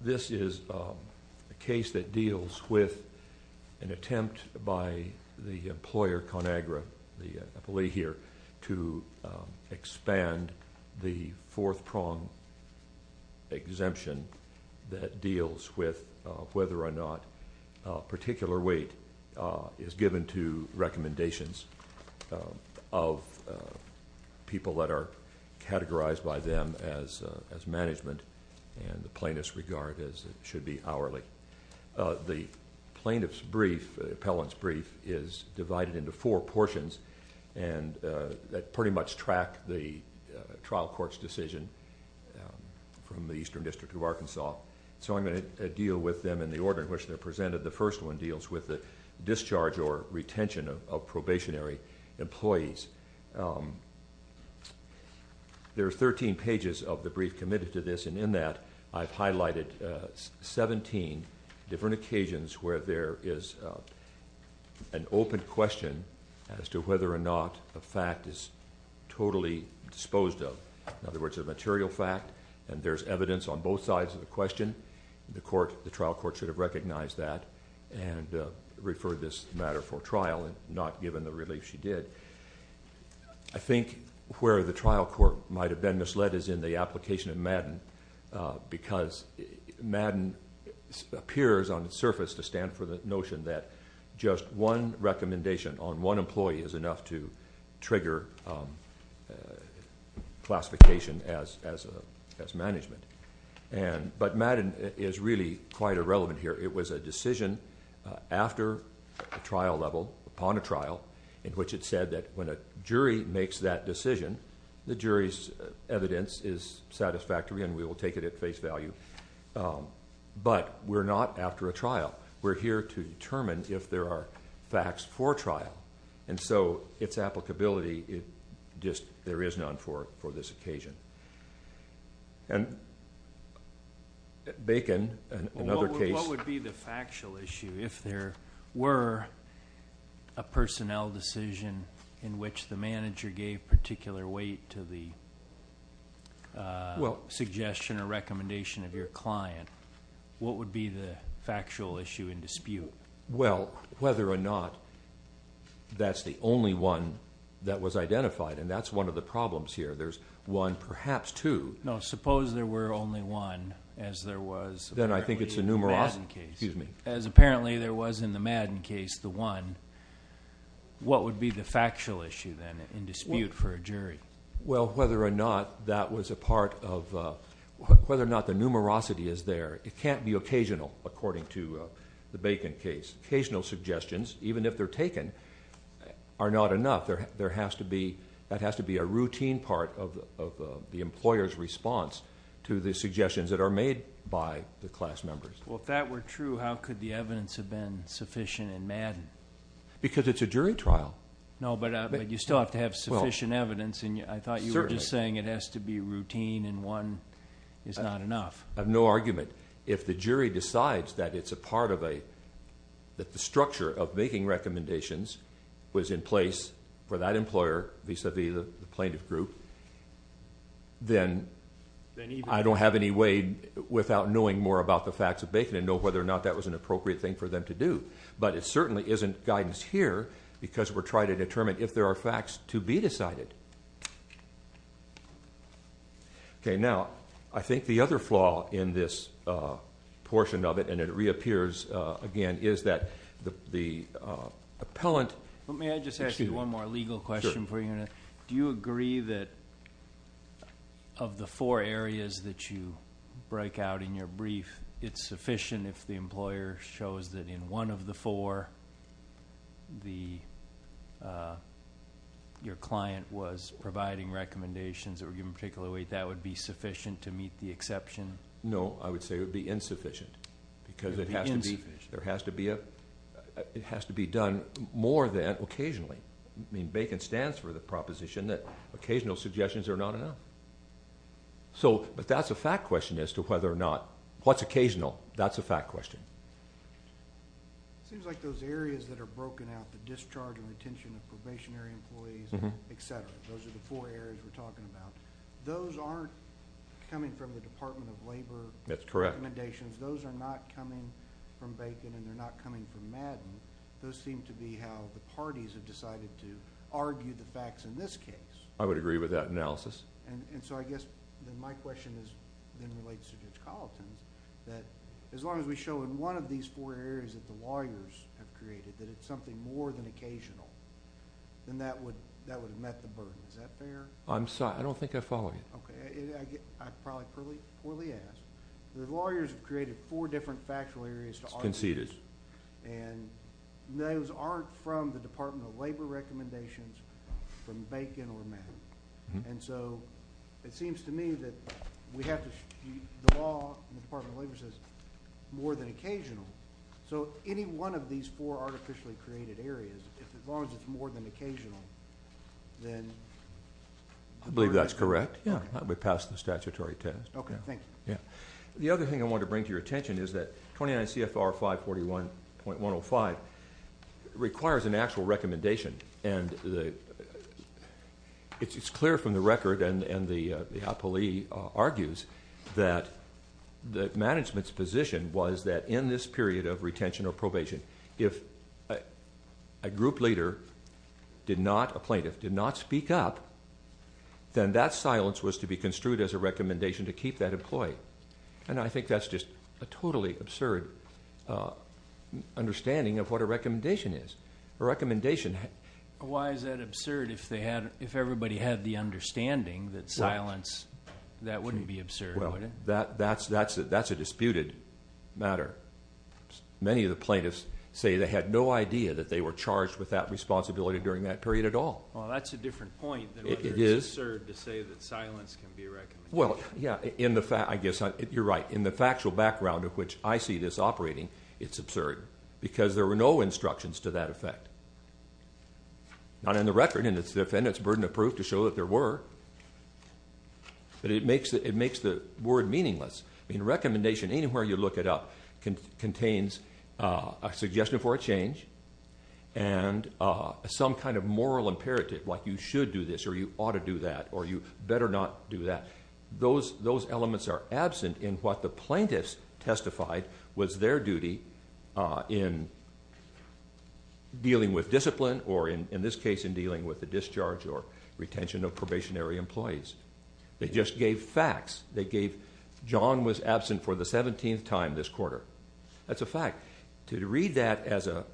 This is a case that deals with an attempt by the employer ConAgra to expand the fourth of people that are categorized by them as management, and the plaintiff's regard should be hourly. The plaintiff's brief, the appellant's brief, is divided into four portions that pretty much track the trial court's decision from the Eastern District of Arkansas. So I'm going to deal with them in the order in which they're presented. The first one deals with the discharge or retention of probationary employees. There are 13 pages of the brief committed to this, and in that I've highlighted 17 different occasions where there is an open question as to whether or not a fact is totally disposed of. In other words, a material fact, and there's evidence on both sides of the question. The trial court should have recognized that and referred this matter for trial, not given the relief she did. I think where the trial court might have been misled is in the application of Madden, because Madden appears on the surface to stand for the notion that just one recommendation on one employee is enough to trigger classification as management. But Madden is really quite irrelevant here. It was a decision after a trial level, upon a trial, in which it said that when a jury makes that decision, the jury's evidence is satisfactory and we will take it at face value. But we're not after a trial. We're here to determine if there are facts for trial. And so its applicability, it just, there is none for this occasion. And Bacon, another case What would be the factual issue if there were a personnel decision in which the manager gave particular weight to the suggestion or recommendation of your client? What would be the factual issue in dispute? Well, whether or not that's the only one that was identified, and that's one of the problems here. There's one, perhaps two. No, suppose there were only one as there was apparently in the Madden case. What would be the factual issue then in dispute for a jury? Well, whether or not that was a part of, whether or not the numerosity is there. It can't be occasional, according to the Bacon case. Occasional suggestions, even if they're taken, are not enough. That has to be a routine part of the employer's suggestions that are made by the class members. Well, if that were true, how could the evidence have been sufficient in Madden? Because it's a jury trial. No, but you still have to have sufficient evidence. I thought you were just saying it has to be routine and one is not enough. I have no argument. If the jury decides that it's a part of a, that the structure of making recommendations was in place for that employer vis-a-vis the plaintiff group, then I don't have any way without knowing more about the facts of Bacon and know whether or not that was an appropriate thing for them to do. But it certainly isn't guidance here because we're trying to determine if there are facts to be decided. Okay, now, I think the other flaw in this portion of it, and it reappears again, is that the appellant... May I just ask you one more legal question for you? Do you agree that of the four areas that you break out in your brief, it's sufficient if the employer shows that in one of the four your client was providing recommendations that were given particular weight, that would be sufficient to meet the exception? No, I would say it would be insufficient because it has to be done more than occasionally. Bacon stands for the proposition that occasional suggestions are not enough. But that's a fact question as to whether or not, what's occasional, that's a fact question. It seems like those areas that are broken out, the discharge and retention of probationary employees, et cetera, those are the four areas that we're talking about. Those aren't coming from the Department of Labor recommendations. Those are not coming from Bacon, and they're not coming from Madden. Those seem to be how the parties have decided to argue the facts in this case. I would agree with that analysis. And so I guess my question then relates to Judge Colleton, that as long as we show in one of these four areas that the lawyers have created that it's something more than occasional, then that would have met the burden. Is that fair? I'm sorry. I don't think I'm following you. Okay. I probably poorly asked. The lawyers have created four different factual areas to argue. It's conceded. And those aren't from the Department of Labor recommendations from Bacon or Madden. And so it seems to me that we have to, the law and the Department of Labor says more than occasional. So any one of these four artificially created areas, as long as it's more than occasional, I believe that's correct. Yeah. That would pass the statutory test. Okay. Thank you. Yeah. The other thing I wanted to bring to your attention is that 29 CFR 541.105 requires an actual recommendation. And it's clear from the record, and the appellee argues, that the management's position was that in this period of retention or probation, if a group leader did not, a plaintiff, did not speak up, then that silence was to be construed as a recommendation to keep that employee. And I think that's just a totally absurd understanding of what a recommendation is. A recommendation... Why is that absurd if everybody had the understanding that silence, that wouldn't be absurd, would it? Well, that's a disputed matter. Many of the plaintiffs say they had no idea that they were charged with that responsibility during that period at all. Well, that's a different point than whether it's absurd to say that silence can be a recommendation. Well, yeah. I guess you're right. In the factual background of which I see this operating, it's absurd. Because there were no instructions to that effect. Not in the record, and it's the defendant's burden of proof to show that there were. But it makes the word meaningless. I mean, a recommendation, anywhere you look it up, contains a suggestion for a change and some kind of moral imperative, like you should do this or you ought to do that or you better not do that. Those elements are absent in what the plaintiffs testified was their duty in dealing with discipline or, in this case, in dealing with the discharge or retention of probationary employees. They just gave facts. They gave John was absent for the 17th time this quarter. That's a fact. To read that as a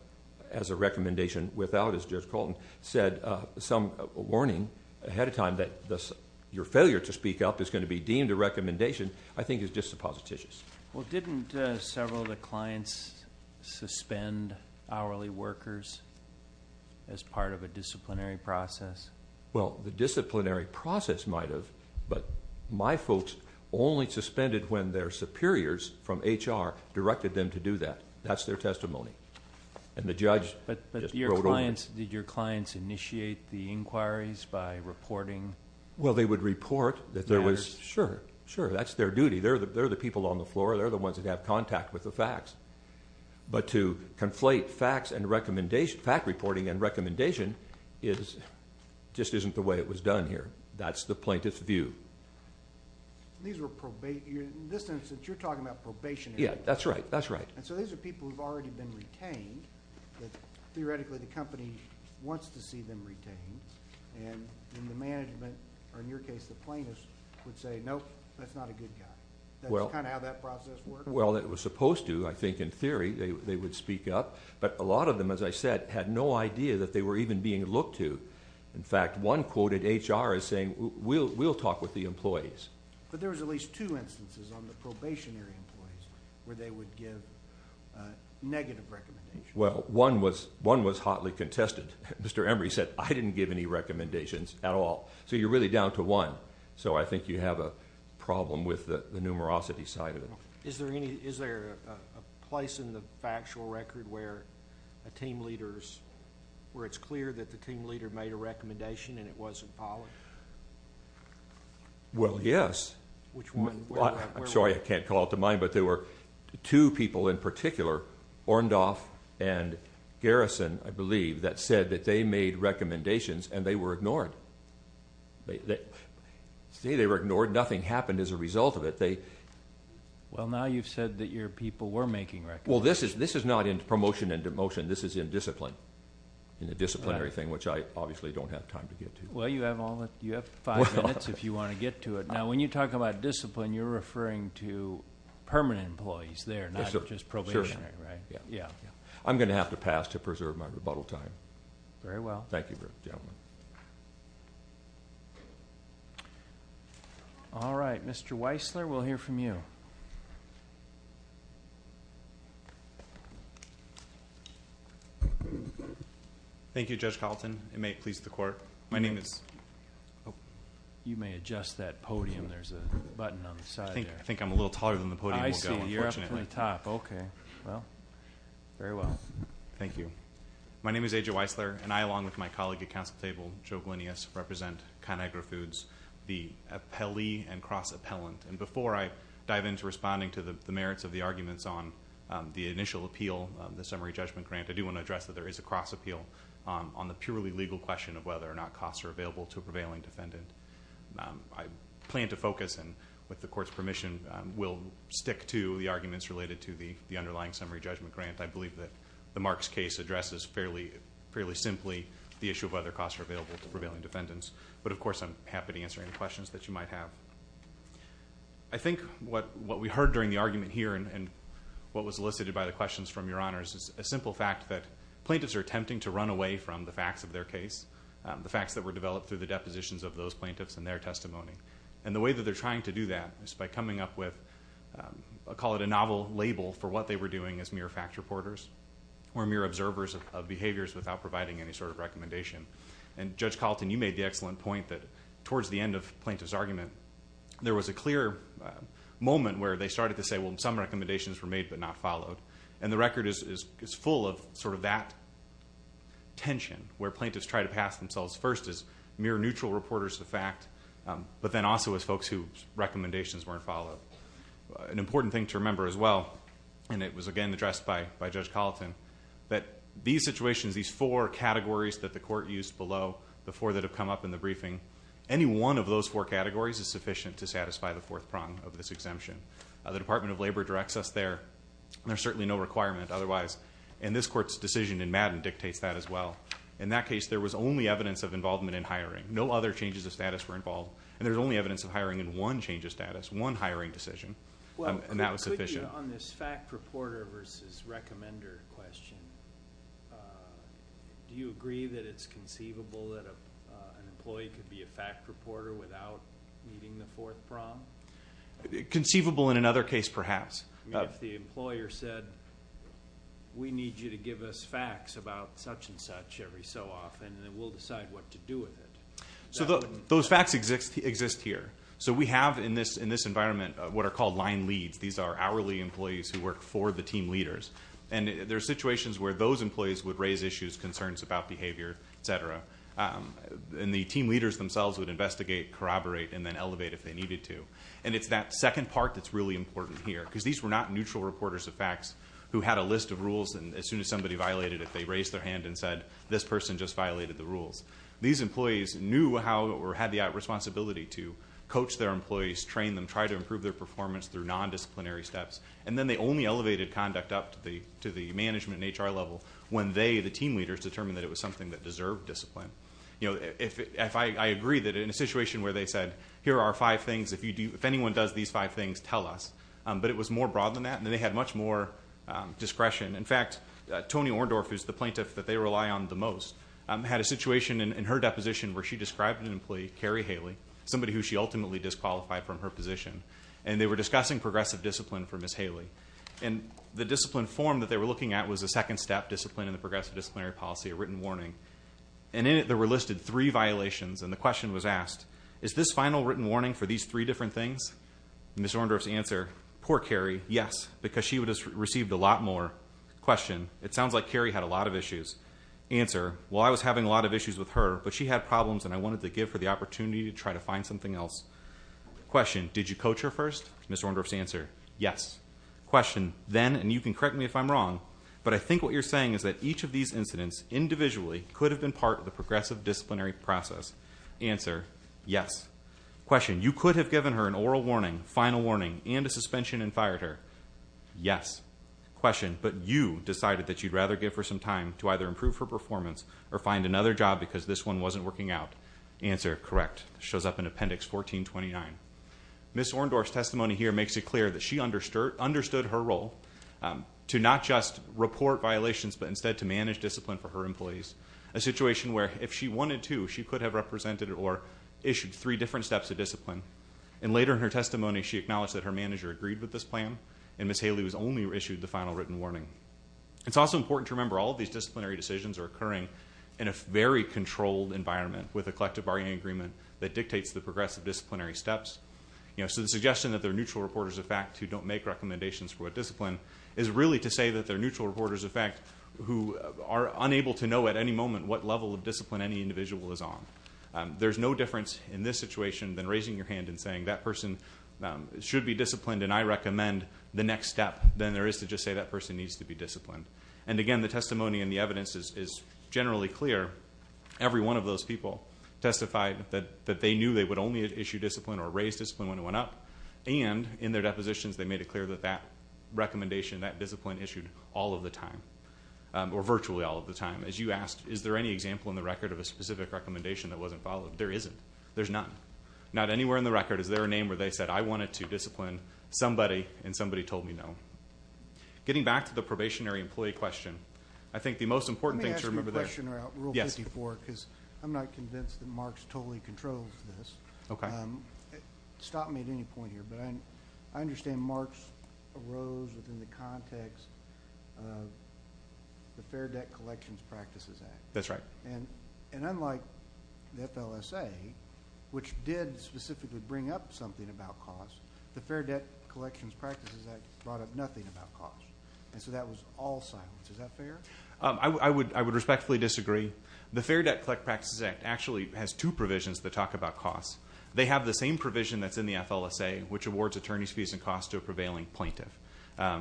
recommendation without, as Judge Colton said, some warning ahead of time that your failure to speak up is going to be deemed a recommendation, I think is disapposititious. Well, didn't several of the clients suspend hourly workers as part of a disciplinary process? Well, the disciplinary process might have, but my folks only suspended when their superiors from HR directed them to do that. That's their testimony. And the judge just wrote over it. But did your clients initiate the inquiries by reporting matters? Well, they would report that there was, sure, sure. That's their duty. They're the people on the floor. They're the ones that have contact with the facts. But to conflate facts and recommendation, fact reporting and recommendation, just isn't the way it was done here. That's the plaintiff's view. In this instance, you're talking about probationary employees. Yeah, that's right. That's right. And so these are people who have already been retained, but theoretically the company wants to see them retained. And in the management, or in your case, the plaintiffs, would say, nope, that's not a good guy. That's kind of how that process works. Well, it was supposed to. I think in theory they would speak up. But a lot of them, as I said, had no idea that they were even being looked to. In fact, one quoted HR as saying, we'll talk with the employees. But there was at least two instances on the probationary employees where they would give negative recommendations. Well, one was hotly contested. Mr. Emory said, I didn't give any recommendations at all. So you're really down to one. So I think you have a problem with the numerosity side of it. Is there a place in the factual record where it's clear that the team leader made a recommendation and it wasn't followed? Well, yes. Which one? I'm sorry, I can't come up with mine, but there were two people in particular, Orndorff and Garrison, I believe, that said that they made recommendations and they were ignored. See, they were ignored. Nothing happened as a result of it. Well, now you've said that your people were making recommendations. Well, this is not in promotion and demotion. This is in discipline, in the disciplinary thing, which I obviously don't have time to get to. Well, you have five minutes if you want to get to it. Now, when you talk about discipline, you're referring to permanent employees there, not just probationary, right? I'm going to have to pass to preserve my rebuttal time. Very well. Thank you, gentlemen. All right. Mr. Weissler, we'll hear from you. Thank you, Judge Carlton. It may please the Court. My name is... You may adjust that podium. There's a button on the side there. I think I'm a little taller than the podium will go, unfortunately. I see. You're up to the top. Okay. Well, very well. Thank you. My name is A.J. Weissler, and I, along with my colleague at Council Table, Joe Glinius, represent ConAgra Foods, the appellee and cross-appellant. And before I dive into responding to the merits of the arguments on the initial appeal, the summary judgment grant, I do want to address that there is a cross-appeal on the purely legal question of whether or not costs are available to a prevailing defendant. I plan to focus, and with the Court's permission, will stick to the arguments related to the underlying summary judgment grant. I believe that the Marks case addresses fairly simply the issue of whether costs are available to prevailing defendants. But, of course, I'm happy to answer any questions that you might have. I think what we heard during the argument here and what was elicited by the questions from Your Honors is a simple fact that plaintiffs are attempting to run away from the facts of their case, the facts that were developed through the depositions of those plaintiffs and their testimony. And the way that they're trying to do that is by coming up with, I'll call it a novel label, for what they were doing as mere fact reporters or mere observers of behaviors without providing any sort of recommendation. And, Judge Carlton, you made the excellent point that towards the end of the plaintiff's argument, there was a clear moment where they started to say, well, some recommendations were made but not followed. And the record is full of sort of that tension where plaintiffs try to pass themselves first as mere neutral reporters of fact but then also as folks whose recommendations weren't followed. An important thing to remember as well, and it was again addressed by Judge Carlton, that these situations, these four categories that the Court used below, the four that have come up in the briefing, any one of those four categories is sufficient to satisfy the fourth prong of this exemption. The Department of Labor directs us there. There's certainly no requirement otherwise. And this Court's decision in Madden dictates that as well. In that case, there was only evidence of involvement in hiring. No other changes of status were involved. And there's only evidence of hiring in one change of status, one hiring decision. And that was sufficient. Well, could you, on this fact reporter versus recommender question, do you agree that it's conceivable that an employee could be a fact reporter without meeting the fourth prong? Conceivable in another case perhaps. If the employer said, we need you to give us facts about such and such every so often, then we'll decide what to do with it. Those facts exist here. So we have in this environment what are called line leads. These are hourly employees who work for the team leaders. And there are situations where those employees would raise issues, concerns about behavior, et cetera. And the team leaders themselves would investigate, corroborate, and then elevate if they needed to. And it's that second part that's really important here. Because these were not neutral reporters of facts who had a list of rules, and as soon as somebody violated it, they raised their hand and said, this person just violated the rules. These employees knew how or had the responsibility to coach their employees, train them, try to improve their performance through nondisciplinary steps. And then they only elevated conduct up to the management and HR level when they, the team leaders, determined that it was something that deserved discipline. I agree that in a situation where they said, here are five things. If anyone does these five things, tell us. But it was more broad than that, and they had much more discretion. In fact, Toni Orndorff, who's the plaintiff that they rely on the most, had a situation in her deposition where she described an employee, Carrie Haley, somebody who she ultimately disqualified from her position, and they were discussing progressive discipline for Ms. Haley. And the discipline form that they were looking at was a second step discipline in the progressive disciplinary policy, a written warning. And in it, there were listed three violations, and the question was asked, is this final written warning for these three different things? Ms. Orndorff's answer, poor Carrie, yes, because she would have received a lot more. Question, it sounds like Carrie had a lot of issues. Answer, well, I was having a lot of issues with her, but she had problems, and I wanted to give her the opportunity to try to find something else. Question, did you coach her first? Ms. Orndorff's answer, yes. Question, then, and you can correct me if I'm wrong, but I think what you're saying is that each of these incidents individually could have been part of the progressive disciplinary process. Answer, yes. Question, you could have given her an oral warning, final warning, and a suspension and fired her. Yes. Question, but you decided that you'd rather give her some time to either improve her performance or find another job because this one wasn't working out. Answer, correct. Shows up in Appendix 1429. Ms. Orndorff's testimony here makes it clear that she understood her role to not just report violations but instead to manage discipline for her employees, a situation where if she wanted to, she could have represented or issued three different steps of discipline. And later in her testimony, she acknowledged that her manager agreed with this plan, and Ms. Haley was only issued the final written warning. It's also important to remember all of these disciplinary decisions are occurring in a very controlled environment with a collective bargaining agreement that dictates the progressive disciplinary steps. So the suggestion that there are neutral reporters, in fact, who don't make recommendations for what discipline is really to say that there are neutral reporters, in fact, who are unable to know at any moment what level of discipline any individual is on. There's no difference in this situation than raising your hand and saying that person should be disciplined and I recommend the next step than there is to just say that person needs to be disciplined. And, again, the testimony and the evidence is generally clear. Every one of those people testified that they knew they would only issue discipline or raise discipline when it went up, and in their depositions, they made it clear that that recommendation, that discipline issued all of the time or virtually all of the time. As you asked, is there any example in the record of a specific recommendation that wasn't followed? There isn't. There's none. Not anywhere in the record is there a name where they said, I wanted to discipline somebody and somebody told me no. Getting back to the probationary employee question, I think the most important thing to remember there is I'm not convinced that Marks totally controls this. Stop me at any point here, but I understand Marks arose within the context of the Fair Debt Collections Practices Act. That's right. And unlike the FLSA, which did specifically bring up something about costs, the Fair Debt Collections Practices Act brought up nothing about costs. And so that was all silence. Is that fair? I would respectfully disagree. The Fair Debt Collections Practices Act actually has two provisions that talk about costs. They have the same provision that's in the FLSA, which awards attorney's fees and costs to a prevailing plaintiff,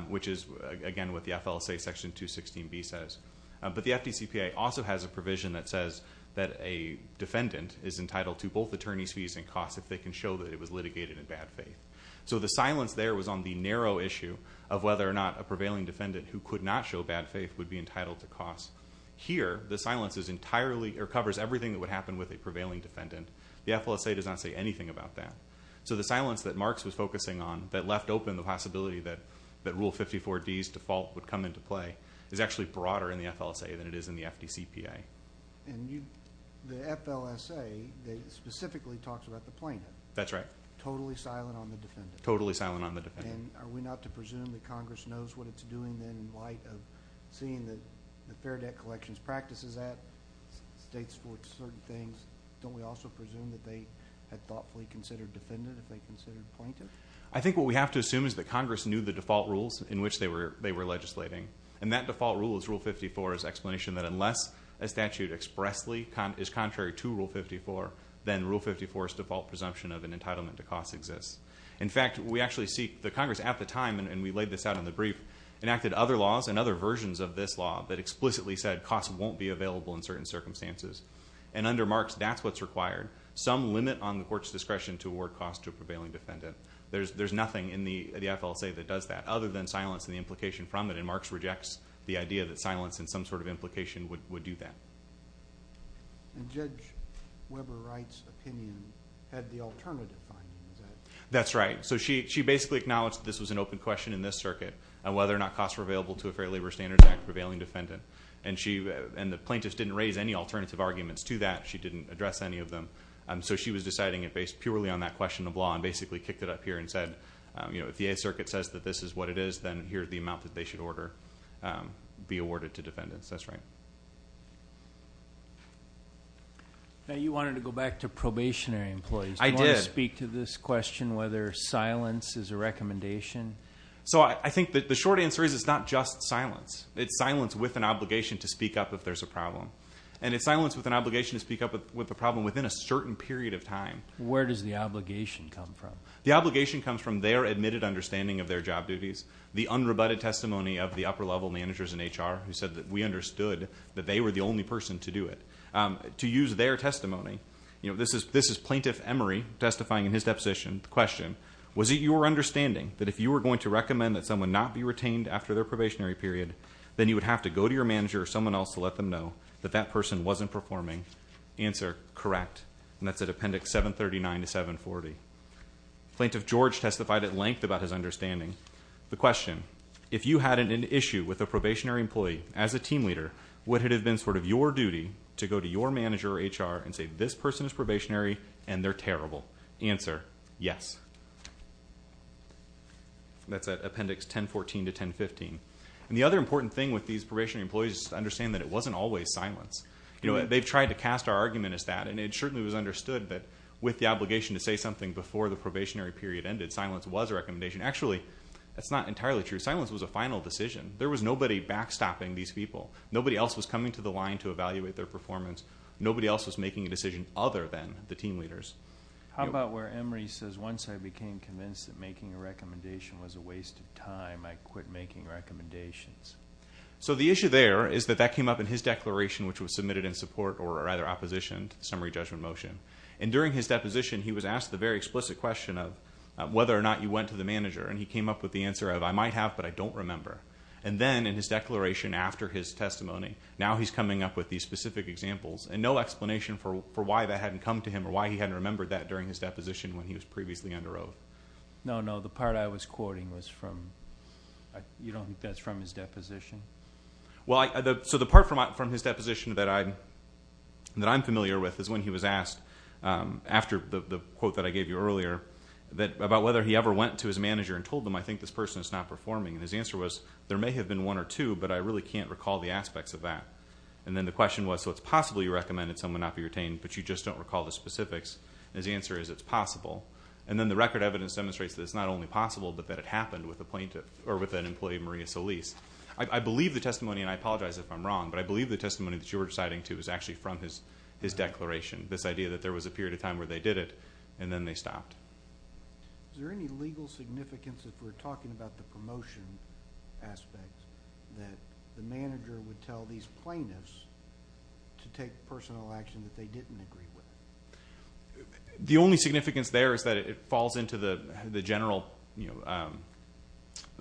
which is, again, what the FLSA Section 216b says. But the FDCPA also has a provision that says that a defendant is entitled to both attorney's fees and costs if they can show that it was litigated in bad faith. So the silence there was on the narrow issue of whether or not a prevailing defendant who could not show bad faith would be entitled to costs. Here, the silence covers everything that would happen with a prevailing defendant. The FLSA does not say anything about that. So the silence that Marks was focusing on that left open the possibility that Rule 54D's default would come into play is actually broader in the FLSA than it is in the FDCPA. And the FLSA specifically talks about the plaintiff. That's right. Totally silent on the defendant. Totally silent on the defendant. And are we not to presume that Congress knows what it's doing, then, in light of seeing the Fair Debt Collection's practices at states for certain things? Don't we also presume that they had thoughtfully considered defendant if they considered plaintiff? I think what we have to assume is that Congress knew the default rules in which they were legislating. And that default rule is Rule 54's explanation that unless a statute expressly is contrary to Rule 54, then Rule 54's default presumption of an entitlement to costs exists. In fact, we actually see the Congress at the time, and we laid this out in the brief, enacted other laws and other versions of this law that explicitly said costs won't be available in certain circumstances. And under Marks, that's what's required. Some limit on the court's discretion to award costs to a prevailing defendant. There's nothing in the FLSA that does that other than silence and the implication from it. And Marks rejects the idea that silence and some sort of implication would do that. And Judge Weber-Wright's opinion had the alternative findings. That's right. So she basically acknowledged that this was an open question in this circuit on whether or not costs were available to a Fair Labor Standards Act prevailing defendant. And the plaintiff didn't raise any alternative arguments to that. She didn't address any of them. So she was deciding it based purely on that question of law and basically kicked it up here and said, you know, if the Eighth Circuit says that this is what it is, then here's the amount that they should order be awarded to defendants. That's right. Now you wanted to go back to probationary employees. I did. Do you want to speak to this question whether silence is a recommendation? So I think that the short answer is it's not just silence. It's silence with an obligation to speak up if there's a problem. And it's silence with an obligation to speak up with a problem within a certain period of time. Where does the obligation come from? The obligation comes from their admitted understanding of their job duties, the unrebutted testimony of the upper-level managers in HR who said that we understood that they were the only person to do it. To use their testimony, you know, this is Plaintiff Emery testifying in his deposition. The question, was it your understanding that if you were going to recommend that someone not be retained after their probationary period, then you would have to go to your manager or someone else to let them know that that person wasn't performing? Answer, correct. And that's at Appendix 739 to 740. Plaintiff George testified at length about his understanding. The question, if you had an issue with a probationary employee as a team leader, would it have been sort of your duty to go to your manager or HR and say, this person is probationary and they're terrible? Answer, yes. That's at Appendix 1014 to 1015. And the other important thing with these probationary employees is to understand that it wasn't always silence. You know, they've tried to cast our argument as that, and it certainly was understood that with the obligation to say something before the probationary period ended, silence was a recommendation. Actually, that's not entirely true. Silence was a final decision. There was nobody backstopping these people. Nobody else was coming to the line to evaluate their performance. Nobody else was making a decision other than the team leaders. How about where Emery says, once I became convinced that making a recommendation was a waste of time, I quit making recommendations? So the issue there is that that came up in his declaration, which was submitted in support or either opposition to the summary judgment motion. And during his deposition, he was asked the very explicit question of whether or not you went to the manager. And he came up with the answer of, I might have, but I don't remember. And then in his declaration after his testimony, now he's coming up with these specific examples and no explanation for why that hadn't come to him or why he hadn't remembered that during his deposition when he was previously under oath. No, no, the part I was quoting was from, you don't think that's from his deposition? Well, so the part from his deposition that I'm familiar with is when he was asked, after the quote that I gave you earlier, about whether he ever went to his manager and told them, I think this person is not performing. And his answer was, there may have been one or two, but I really can't recall the aspects of that. And then the question was, so it's possibly recommended someone not be retained, but you just don't recall the specifics. And his answer is, it's possible. And then the record evidence demonstrates that it's not only possible, but that it happened with an employee, Maria Solis. I believe the testimony, and I apologize if I'm wrong, but I believe the testimony that you were reciting to was actually from his declaration, this idea that there was a period of time where they did it, and then they stopped. Is there any legal significance, if we're talking about the promotion aspect, that the manager would tell these plaintiffs to take personal action that they didn't agree with? The only significance there is that it falls into the general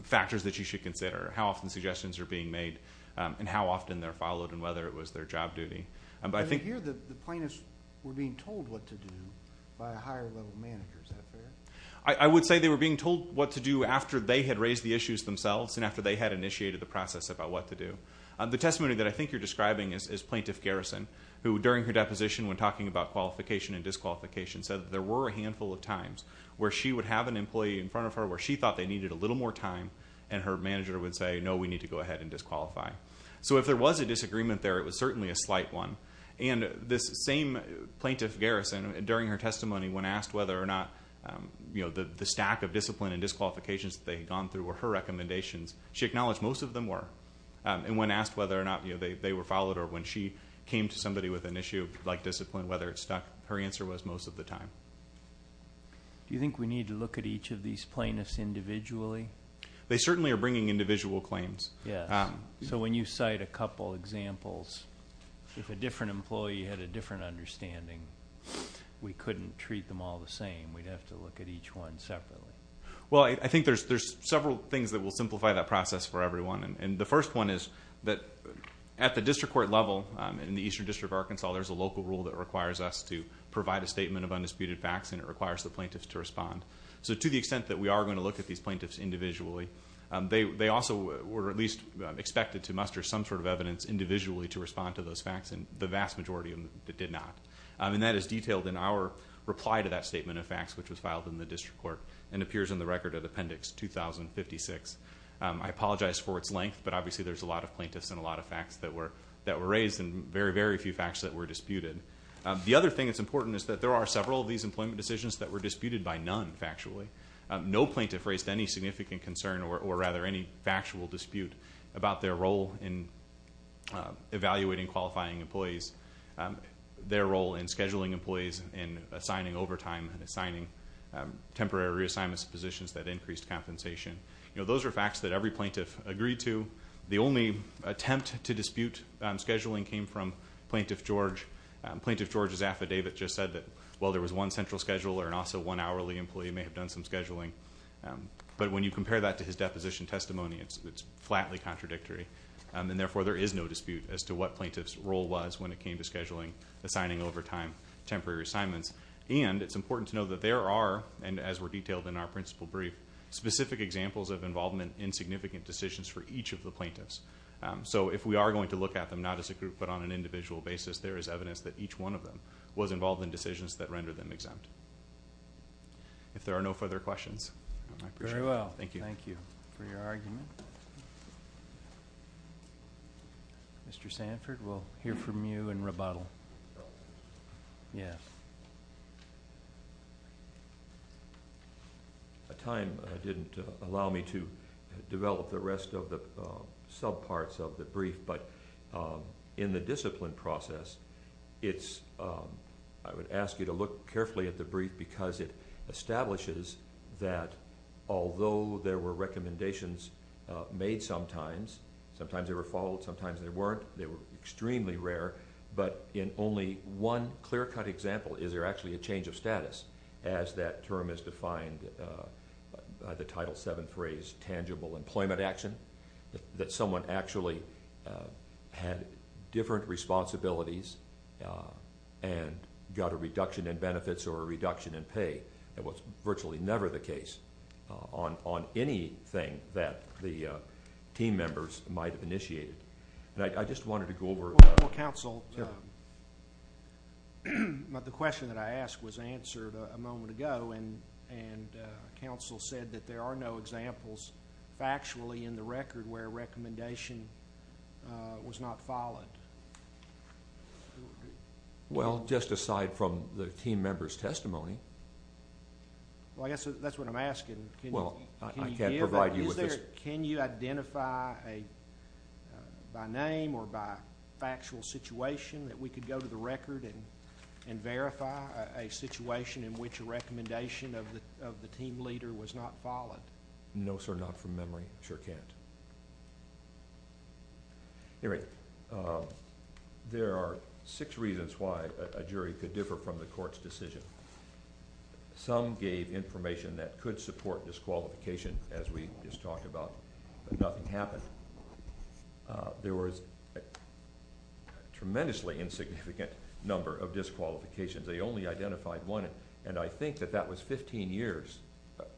factors that you should consider, how often suggestions are being made, and how often they're followed, and whether it was their job duty. I hear that the plaintiffs were being told what to do by a higher-level manager. Is that fair? I would say they were being told what to do after they had raised the issues themselves and after they had initiated the process about what to do. The testimony that I think you're describing is Plaintiff Garrison, who during her deposition when talking about qualification and disqualification said that there were a handful of times where she would have an employee in front of her where she thought they needed a little more time, and her manager would say, no, we need to go ahead and disqualify. So if there was a disagreement there, it was certainly a slight one. And this same Plaintiff Garrison, during her testimony, when asked whether or not the stack of discipline and disqualifications that they had gone through were her recommendations, she acknowledged most of them were. And when asked whether or not they were followed or when she came to somebody with an issue like discipline, whether it stuck, her answer was most of the time. Do you think we need to look at each of these plaintiffs individually? They certainly are bringing individual claims. Yes. So when you cite a couple examples, if a different employee had a different understanding, we couldn't treat them all the same. We'd have to look at each one separately. Well, I think there's several things that will simplify that process for everyone. And the first one is that at the district court level in the Eastern District of Arkansas, there's a local rule that requires us to provide a statement of undisputed facts and it requires the plaintiffs to respond. So to the extent that we are going to look at these plaintiffs individually, they also were at least expected to muster some sort of evidence individually to respond to those facts, and the vast majority of them did not. And that is detailed in our reply to that statement of facts, which was filed in the district court and appears in the Record of Appendix 2056. I apologize for its length, but obviously there's a lot of plaintiffs and a lot of facts that were raised and very, very few facts that were disputed. The other thing that's important is that there are several of these employment decisions that were disputed by none factually. No plaintiff raised any significant concern, or rather any factual dispute, about their role in evaluating qualifying employees, their role in scheduling employees and assigning overtime and assigning temporary reassignments to positions that increased compensation. Those are facts that every plaintiff agreed to. The only attempt to dispute scheduling came from Plaintiff George. Plaintiff George's affidavit just said that, well, there was one central scheduler and also one hourly employee may have done some scheduling. But when you compare that to his deposition testimony, it's flatly contradictory, and therefore there is no dispute as to what plaintiff's role was when it came to scheduling, assigning overtime, temporary assignments. And it's important to know that there are, and as were detailed in our principal brief, specific examples of involvement in significant decisions for each of the plaintiffs. So if we are going to look at them not as a group but on an individual basis, there is evidence that each one of them was involved in decisions that rendered them exempt. If there are no further questions, I appreciate it. Very well. Thank you. Thank you for your argument. Mr. Sanford, we'll hear from you and rebuttal. Yes. Time didn't allow me to develop the rest of the subparts of the brief, but in the discipline process, I would ask you to look carefully at the brief because it establishes that although there were recommendations made sometimes, sometimes they were followed, sometimes they weren't, they were extremely rare, but in only one clear-cut example is there actually a change of status as that term is defined by the Title VII phrase, tangible employment action, that someone actually had different responsibilities and got a reduction in benefits or a reduction in pay. That was virtually never the case on anything that the team members might have initiated. And I just wanted to go over. Well, counsel, the question that I asked was answered a moment ago, and counsel said that there are no examples factually in the record where a recommendation was not followed. Well, just aside from the team members' testimony. Well, I guess that's what I'm asking. Well, I can't provide you with this. Sir, can you identify by name or by factual situation that we could go to the record and verify a situation in which a recommendation of the team leader was not followed? No, sir, not from memory. Sure can't. Anyway, there are six reasons why a jury could differ from the court's decision. Some gave information that could support disqualification, as we just talked about, but nothing happened. There was a tremendously insignificant number of disqualifications. They only identified one, and I think that that was 15 years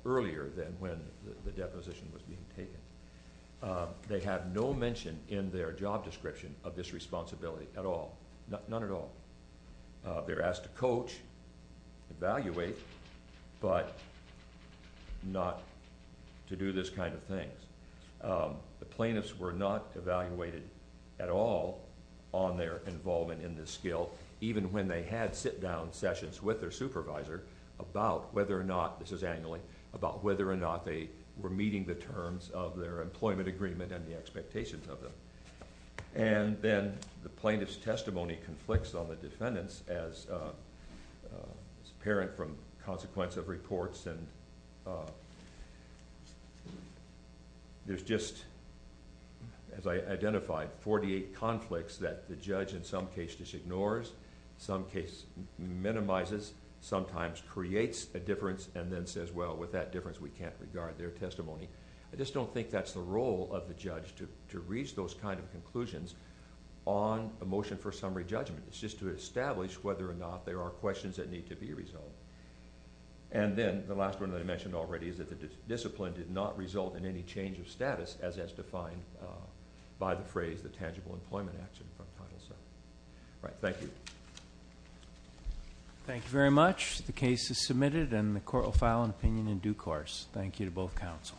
earlier than when the deposition was being taken. They have no mention in their job description of this responsibility at all, none at all. They're asked to coach, evaluate, but not to do this kind of thing. The plaintiffs were not evaluated at all on their involvement in this skill, even when they had sit-down sessions with their supervisor about whether or not, this is annually, about whether or not they were meeting the terms of their employment agreement and the expectations of them. Then the plaintiff's testimony conflicts on the defendant's as apparent from consequence of reports. There's just, as I identified, 48 conflicts that the judge in some cases ignores, in some cases minimizes, sometimes creates a difference, and then says, well, with that difference, we can't regard their testimony. I just don't think that's the role of the judge to reach those kind of conclusions on a motion for summary judgment. It's just to establish whether or not there are questions that need to be resolved. Then the last one that I mentioned already is that the discipline did not result in any change of status as as defined by the phrase, the tangible employment action from Title VII. Thank you. Thank you very much. The case is submitted, and the court will file an opinion in due course. Thank you to both counsel.